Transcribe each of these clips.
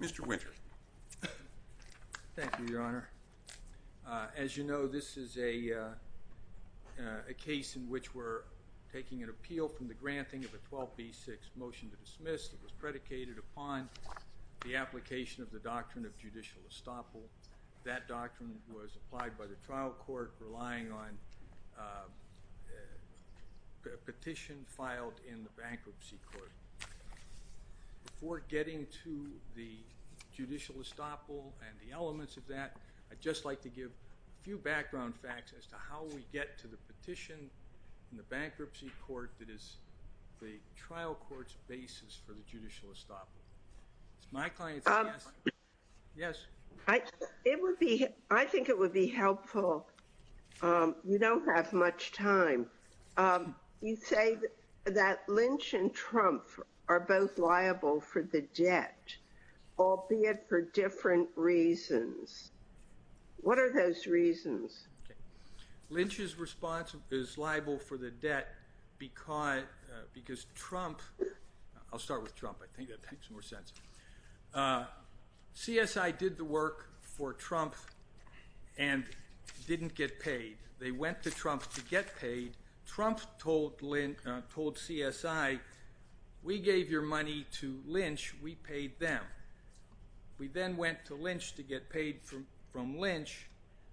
Mr. Winter. Thank you, Your Honor. As you know, this is a case in which we're taking an appeal from the granting of a 12b6 motion to dismiss. It was predicated upon the application of the doctrine of judicial estoppel. That doctrine was applied by the trial court, relying on a petition filed in the bankruptcy court. Before getting to the judicial estoppel and the elements of that, I'd just like to give a few background facts as to how we get to the petition in the bankruptcy court that is the trial court's basis for the judicial estoppel. My client says yes. Yes. I think it would be helpful. We don't have much time. You say that Lynch and Trumpf are both liable for the debt, albeit for different reasons. What are those reasons? Lynch's response is liable for the debt because Trumpf—I'll start with Trumpf. I think that makes more sense. CSI did the work for Trumpf and didn't get paid. They went to Trumpf to get paid. Trumpf told CSI, we gave your money to Lynch. We paid them. We then went to Lynch to get paid from Lynch.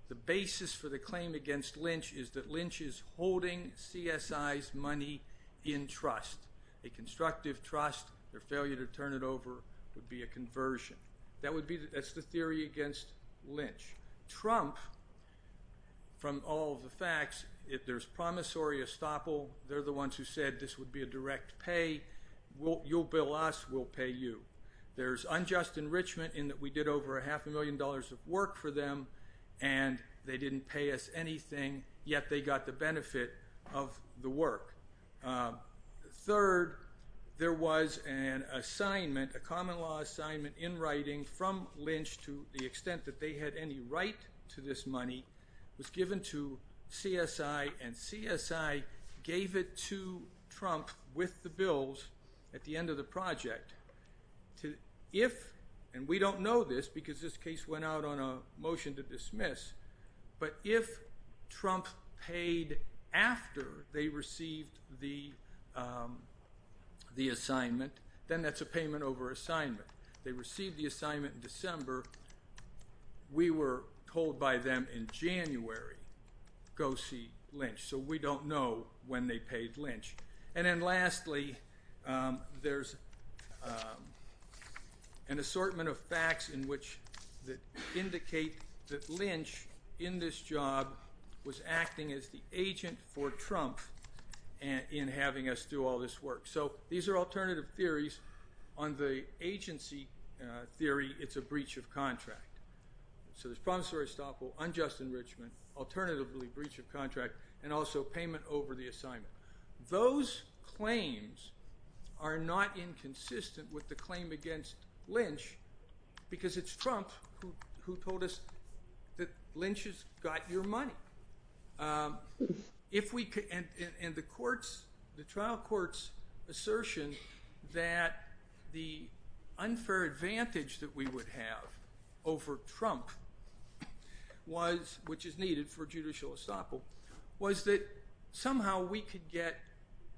The basis for the claim against Lynch is that Lynch is holding CSI's money in trust, a constructive trust. Their failure to turn it over would be a conversion. That's the theory against Lynch. Trumpf, from all of the facts, there's promissory estoppel. They're the ones who said this would be a direct pay. You'll bill us. We'll pay you. There's unjust enrichment in that we did over a half a million dollars of work for them and they didn't pay us anything, yet they got the benefit of the work. Third, there was an assignment, a common law assignment in writing from Lynch to the extent that they had any right to this money was given to CSI and CSI gave it to Trumpf with the bills at the end of the project. We don't know this because this case went out on a motion to dismiss, but if Trumpf paid after they received the assignment, then that's a payment over assignment. They received the assignment in December. We were told by them in January, go see Lynch. So we don't know when they paid Lynch. And then lastly, there's an assortment of facts that indicate that Lynch, in this job, was acting as the agent for Trumpf in having us do all this work. So these are alternative theories. On the agency theory, it's a breach of contract. So there's promissory estoppel, unjust enrichment, alternatively breach of contract, and also payment over the assignment. Those claims are not inconsistent with the claim against Lynch because it's Trumpf who told us that Lynch has got your money. And the trial court's assertion that the unfair advantage that we would have over Trumpf, which is needed for judicial estoppel, was that somehow we could get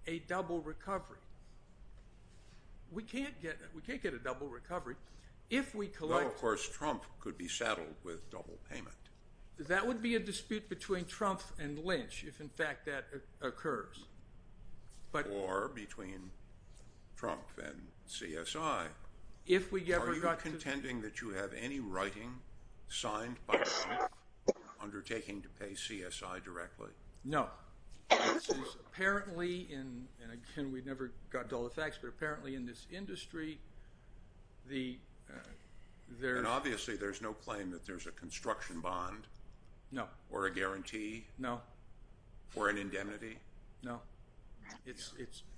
a double recovery. We can't get a double recovery if we collect- Well, of course, Trumpf could be saddled with double payment. That would be a dispute between Trumpf and Lynch if, in fact, that occurs. Or between Trumpf and CSI. If we ever got to- Are you contending that you have any writing signed by Trumpf undertaking to pay CSI directly? No. This is apparently, and again, we never got to all the facts, but apparently in this industry, the- And obviously, there's no claim that there's a construction bond or a guarantee or an indemnity? No. No.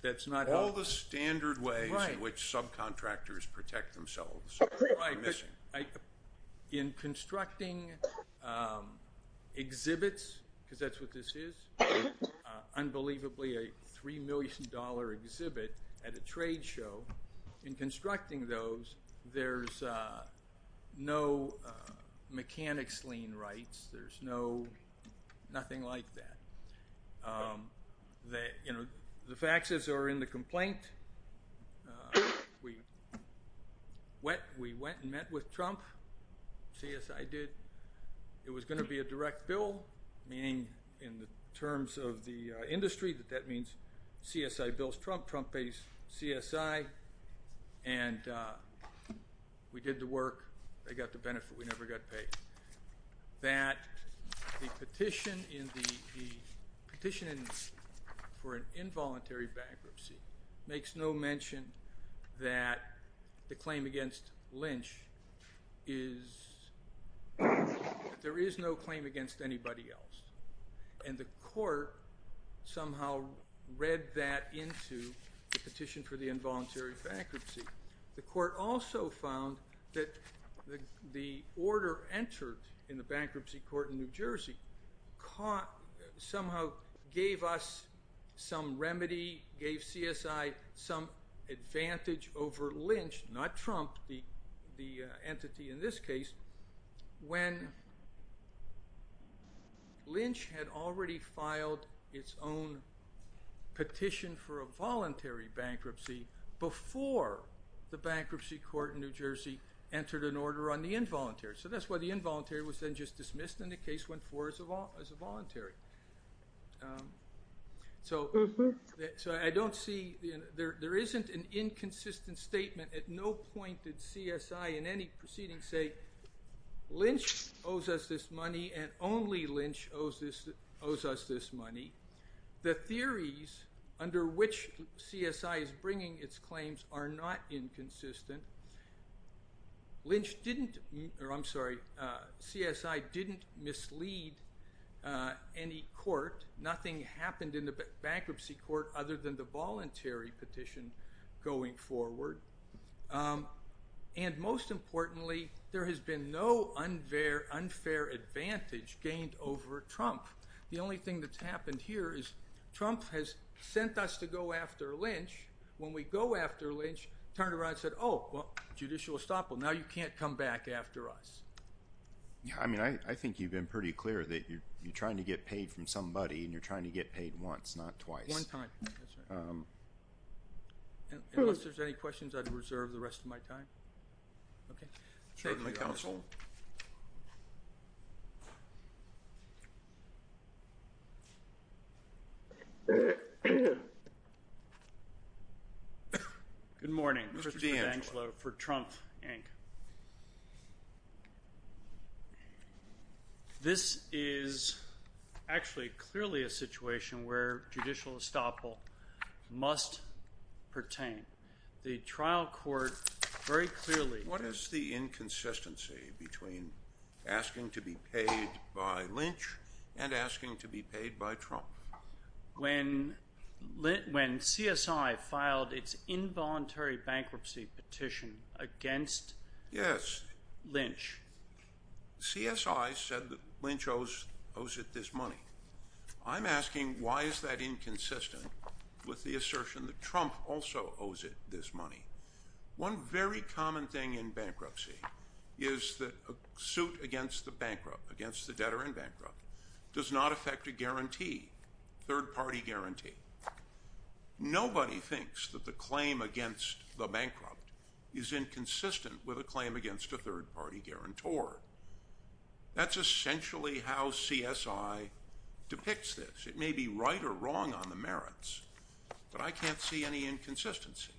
That's not- All the standard ways in which subcontractors protect themselves are missing. In constructing exhibits, because that's what this is, unbelievably a $3 million exhibit at a trade show, in constructing those, there's no mechanics lien rights. There's nothing like that. The facts are in the complaint. We went and met with Trumpf, CSI did. It was going to be a direct bill, meaning in the terms of the industry, that that means CSI bills Trumpf, Trumpf pays CSI, and we did the work, they got the benefit, we never got paid. That the petition for an involuntary bankruptcy makes no mention that the claim against Lynch is, there is no claim against anybody else, and the court somehow read that into the petition for the involuntary bankruptcy. The court also found that the order entered in the bankruptcy court in New Jersey somehow gave us some remedy, gave CSI some advantage over Lynch, not Trumpf, the entity in this case, when Lynch had already filed its own petition for a voluntary bankruptcy before the bankruptcy court in New Jersey entered an order on the involuntary. That's why the involuntary was then just dismissed, and the case went forward as a voluntary. There isn't an inconsistent statement at no point did CSI in any proceeding say, Lynch owes us this money, and only Lynch owes us this money. The theories under which CSI is bringing its claims are not inconsistent. Lynch didn't, or I'm sorry, CSI didn't mislead any court, nothing happened in the bankruptcy court other than the voluntary petition going forward, and most importantly, there has been no unfair advantage gained over Trumpf. The only thing that's happened here is Trumpf has sent us to go after Lynch, when we go after Lynch, turned around and said, oh, well, judicial estoppel, now you can't come back after us. Yeah, I mean, I think you've been pretty clear that you're trying to get paid from somebody and you're trying to get paid once, not twice. One time, that's right. Unless there's any questions, I'd reserve the rest of my time. Okay. Thank you, counsel. Good morning. Mr. D'Angelo for Trumpf, Inc. This is actually clearly a situation where judicial estoppel must pertain. The trial court very clearly- What is the inconsistency between asking to be paid by Lynch and asking to be paid by Trumpf? When CSI filed its involuntary bankruptcy petition against Lynch- Yes. CSI said that Lynch owes it this money. I'm asking, why is that inconsistent with the assertion that Trumpf also owes it this money? One very common thing in bankruptcy is that a suit against the debtor in bankruptcy does not affect a guarantee, third-party guarantee. Nobody thinks that the claim against the bankrupt is inconsistent with a claim against a third-party guarantor. That's essentially how CSI depicts this. It may be right or wrong on the merits, but I can't see any inconsistency.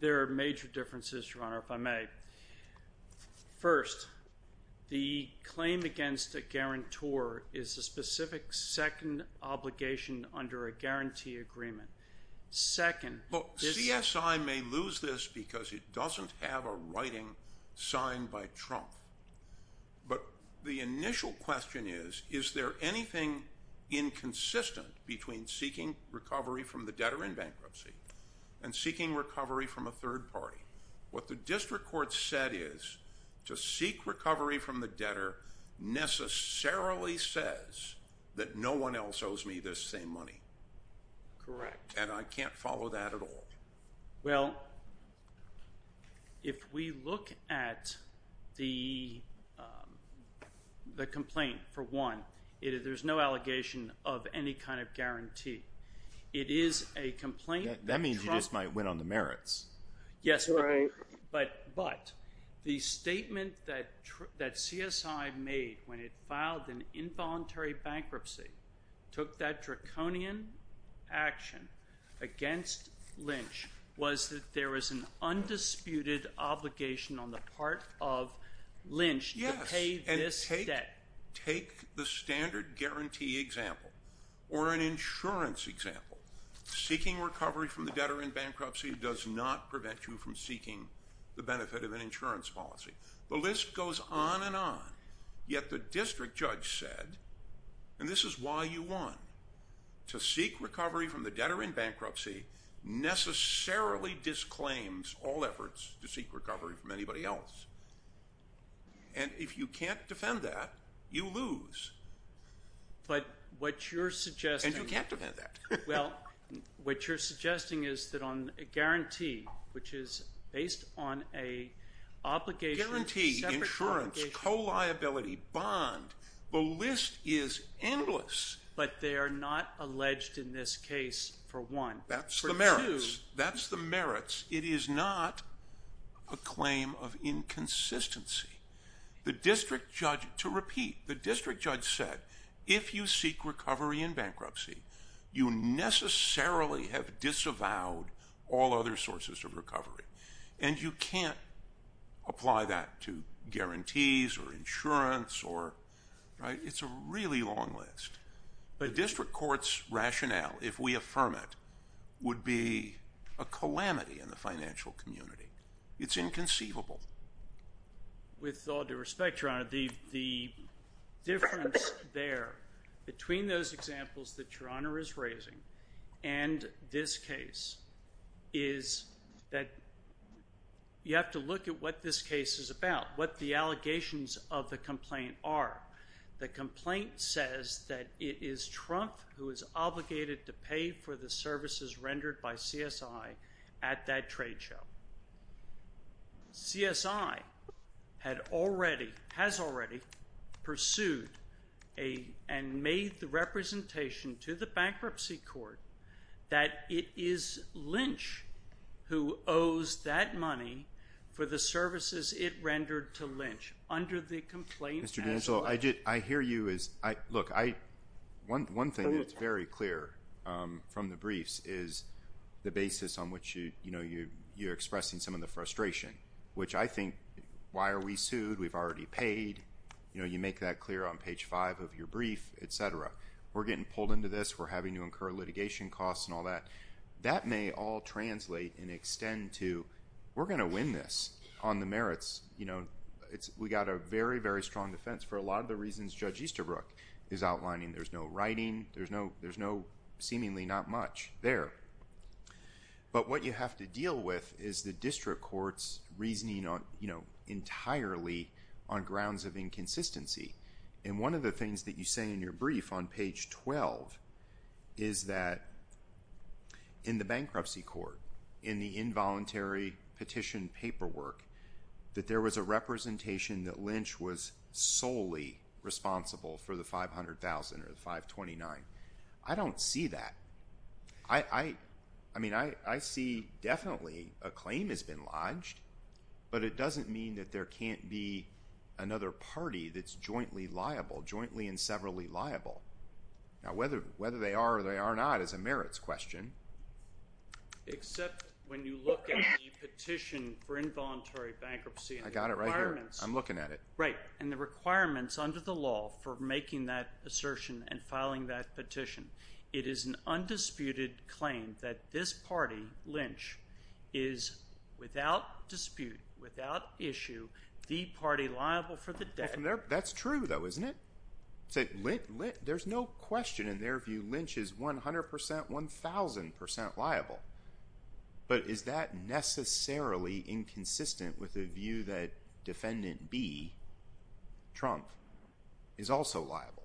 There are major differences, Your Honor, if I may. First, the claim against a guarantor is a specific second obligation under a guarantee agreement. Second- CSI may lose this because it doesn't have a writing signed by Trumpf. The initial question is, is there anything inconsistent between seeking recovery from the debtor in bankruptcy and seeking recovery from a third party? What the district court said is, to seek recovery from the debtor necessarily says that no one else owes me this same money. Correct. And I can't follow that at all. Well, if we look at the complaint, for one, there's no allegation of any kind of guarantee. It is a complaint- That means you just might win on the merits. Yes, but the statement that CSI made when it filed an involuntary bankruptcy took that draconian action against Lynch was that there was an undisputed obligation on the part of Lynch to pay this debt. Yes, and take the standard guarantee example or an insurance example. Seeking recovery from the debtor in bankruptcy does not prevent you from seeking the benefit of an insurance policy. The list goes on and on, yet the district judge said, and this is why you won, to seek recovery from the debtor in bankruptcy necessarily disclaims all efforts to seek recovery from anybody else. And if you can't defend that, you lose. But what you're suggesting- And you can't defend that. Well, what you're suggesting is that on a guarantee, which is based on a obligation- Guarantee, insurance, co-liability, bond, the list is endless. But they are not alleged in this case, for one. That's the merits. For two- That's the merits. It is not a claim of inconsistency. To repeat, the district judge said, if you seek recovery in bankruptcy, you necessarily have disavowed all other sources of recovery. And you can't apply that to guarantees or insurance. It's a really long list. The district court's rationale, if we affirm it, would be a calamity in the financial community. It's inconceivable. With all due respect, Your Honor, the difference there between those examples that Your Honor is raising and this case is that you have to look at what this case is about, what the allegations of the complaint are. The complaint says that it is Trump who is obligated to pay for the services rendered by CSI at that trade show. CSI had already, has already pursued and made the representation to the bankruptcy court that it is Lynch who owes that money for the services it rendered to Lynch under the complaint as alleged. Mr. D'Angelo, I hear you as, look, one thing that's very clear from the briefs is the basis on which you're expressing some of the frustration, which I think, why are we sued? We've already paid. You make that clear on page five of your brief, et cetera. We're getting pulled into this. We're having to incur litigation costs and all that. That may all translate and extend to, we're going to win this on the merits. We got a very, very strong defense for a lot of the reasons Judge Easterbrook is outlining. There's no writing. There's no seemingly not much there. But what you have to deal with is the district court's reasoning entirely on grounds of inconsistency. And one of the things that you say in your brief on page 12 is that in the bankruptcy court, in the involuntary petition paperwork, that there was a representation that Lynch was solely responsible for the 500,000 or the 529. I don't see that. I mean, I see definitely a claim has been lodged, but it doesn't mean that there can't be another party that's jointly liable, jointly and severally liable. Now, whether they are or they are not is a merits question. Except when you look at the petition for involuntary bankruptcy and the requirements. I got it right here. I'm looking at it. Right, and the requirements under the law for making that assertion and filing that petition. It is an undisputed claim that this party, Lynch, is without dispute, without issue, the party liable for the debt. That's true, though, isn't it? There's no question in their view Lynch is 100%, 1,000% liable. But is that necessarily inconsistent with the view that Defendant B, Trump, is also liable?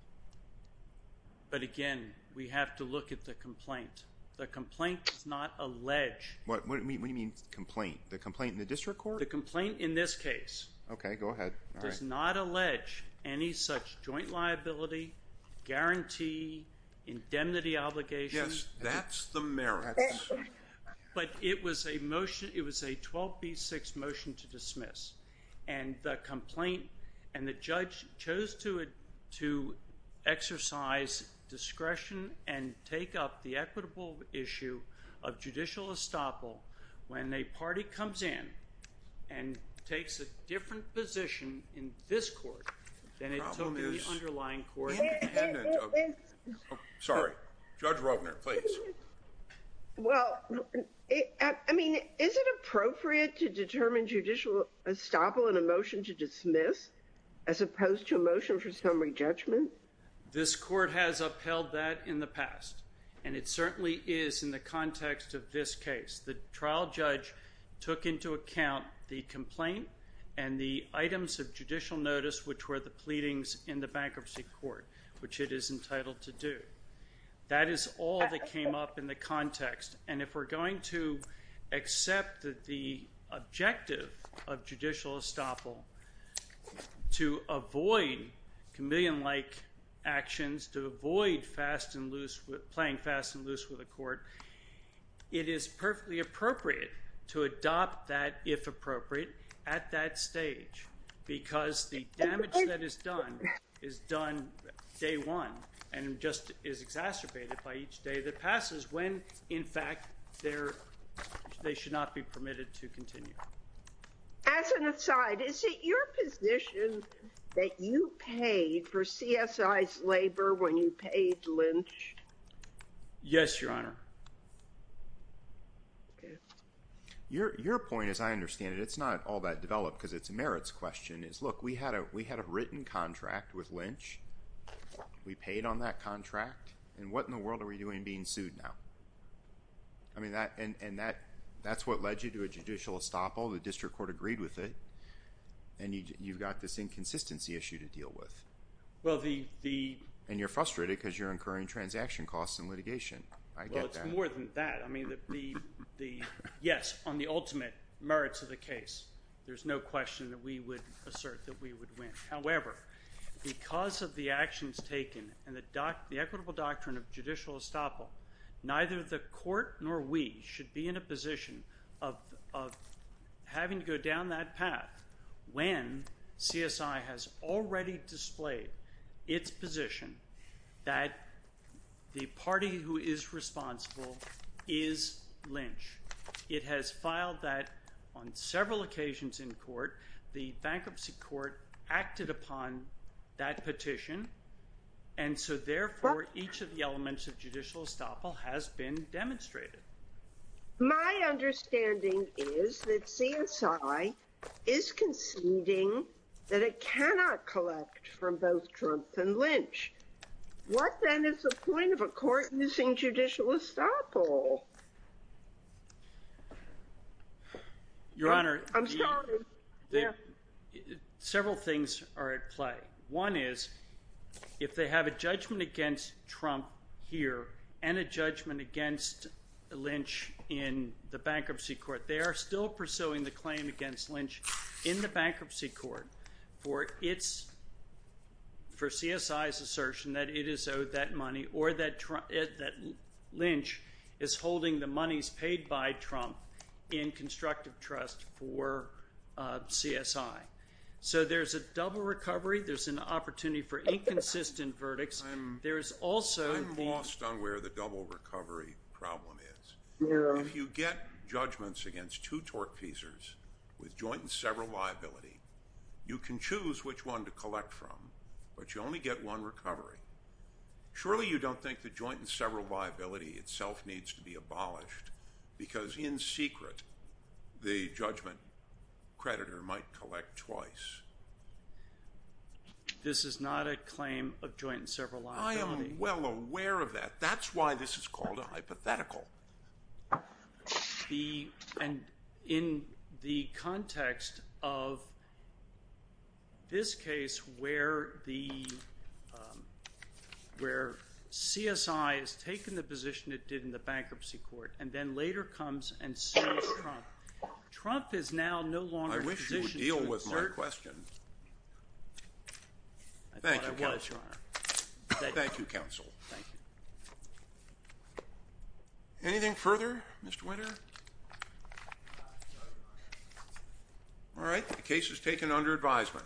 But again, we have to look at the complaint. The complaint does not allege. What do you mean complaint? The complaint in the district court? The complaint in this case. Okay, go ahead. Does not allege any such joint liability, guarantee, indemnity obligation. Yes, that's the merits. But it was a motion. It was a 12B6 motion to dismiss. And the complaint and the judge chose to exercise discretion and take up the equitable issue of judicial estoppel when a party comes in and takes a different position in this court than it took in the underlying court. Sorry, Judge Rovner, please. Well, I mean, is it appropriate to determine judicial estoppel in a motion to dismiss as opposed to a motion for summary judgment? This court has upheld that in the past, and it certainly is in the context of this case. The trial judge took into account the complaint and the items of judicial notice, which were the pleadings in the bankruptcy court, which it is entitled to do. That is all that came up in the context. And if we're going to accept the objective of judicial estoppel to avoid chameleon-like actions, to avoid playing fast and loose with a court, it is perfectly appropriate to adopt that, if appropriate, at that stage. Because the damage that is done is done day one and just is exacerbated by each day that passes when, in fact, they should not be permitted to continue. As an aside, is it your position that you paid for CSI's labor when you paid Lynch? Yes, Your Honor. Your point, as I understand it, it's not all that developed because it's a merits question. Look, we had a written contract with Lynch. We paid on that contract. And what in the world are we doing being sued now? I mean, that's what led you to a judicial estoppel. The district court agreed with it. And you've got this inconsistency issue to deal with. And you're frustrated because you're incurring transaction costs in litigation. I get that. Well, it's more than that. I mean, yes, on the ultimate merits of the case, there's no question that we would assert that we would win. However, because of the actions taken and the equitable doctrine of judicial estoppel, neither the court nor we should be in a position of having to go down that path when CSI has already displayed its position that the party who is responsible is Lynch. It has filed that on several occasions in court. The bankruptcy court acted upon that petition. And so, therefore, each of the elements of judicial estoppel has been demonstrated. My understanding is that CSI is conceding that it cannot collect from both Trump and Lynch. What, then, is the point of a court missing judicial estoppel? Your Honor, several things are at play. One is if they have a judgment against Trump here and a judgment against Lynch in the bankruptcy court, they are still pursuing the claim against Lynch in the bankruptcy court for CSI's assertion that it has owed that money or that Lynch is holding the monies paid by Trump in constructive trust for CSI. So there's a double recovery. There's an opportunity for inconsistent verdicts. I'm lost on where the double recovery problem is. If you get judgments against two tortfeasors with joint and several liability, you can choose which one to collect from, but you only get one recovery. Surely you don't think the joint and several liability itself needs to be abolished because in secret the judgment creditor might collect twice. This is not a claim of joint and several liability. I am well aware of that. That's why this is called a hypothetical. And in the context of this case where CSI has taken the position it did in the bankruptcy court and then later comes and sues Trump, Trump is now no longer in a position to assert. I wish you would deal with my question. I thought I was, Your Honor. Thank you, counsel. Thank you. Anything further, Mr. Winter? All right. The case is taken under advisement.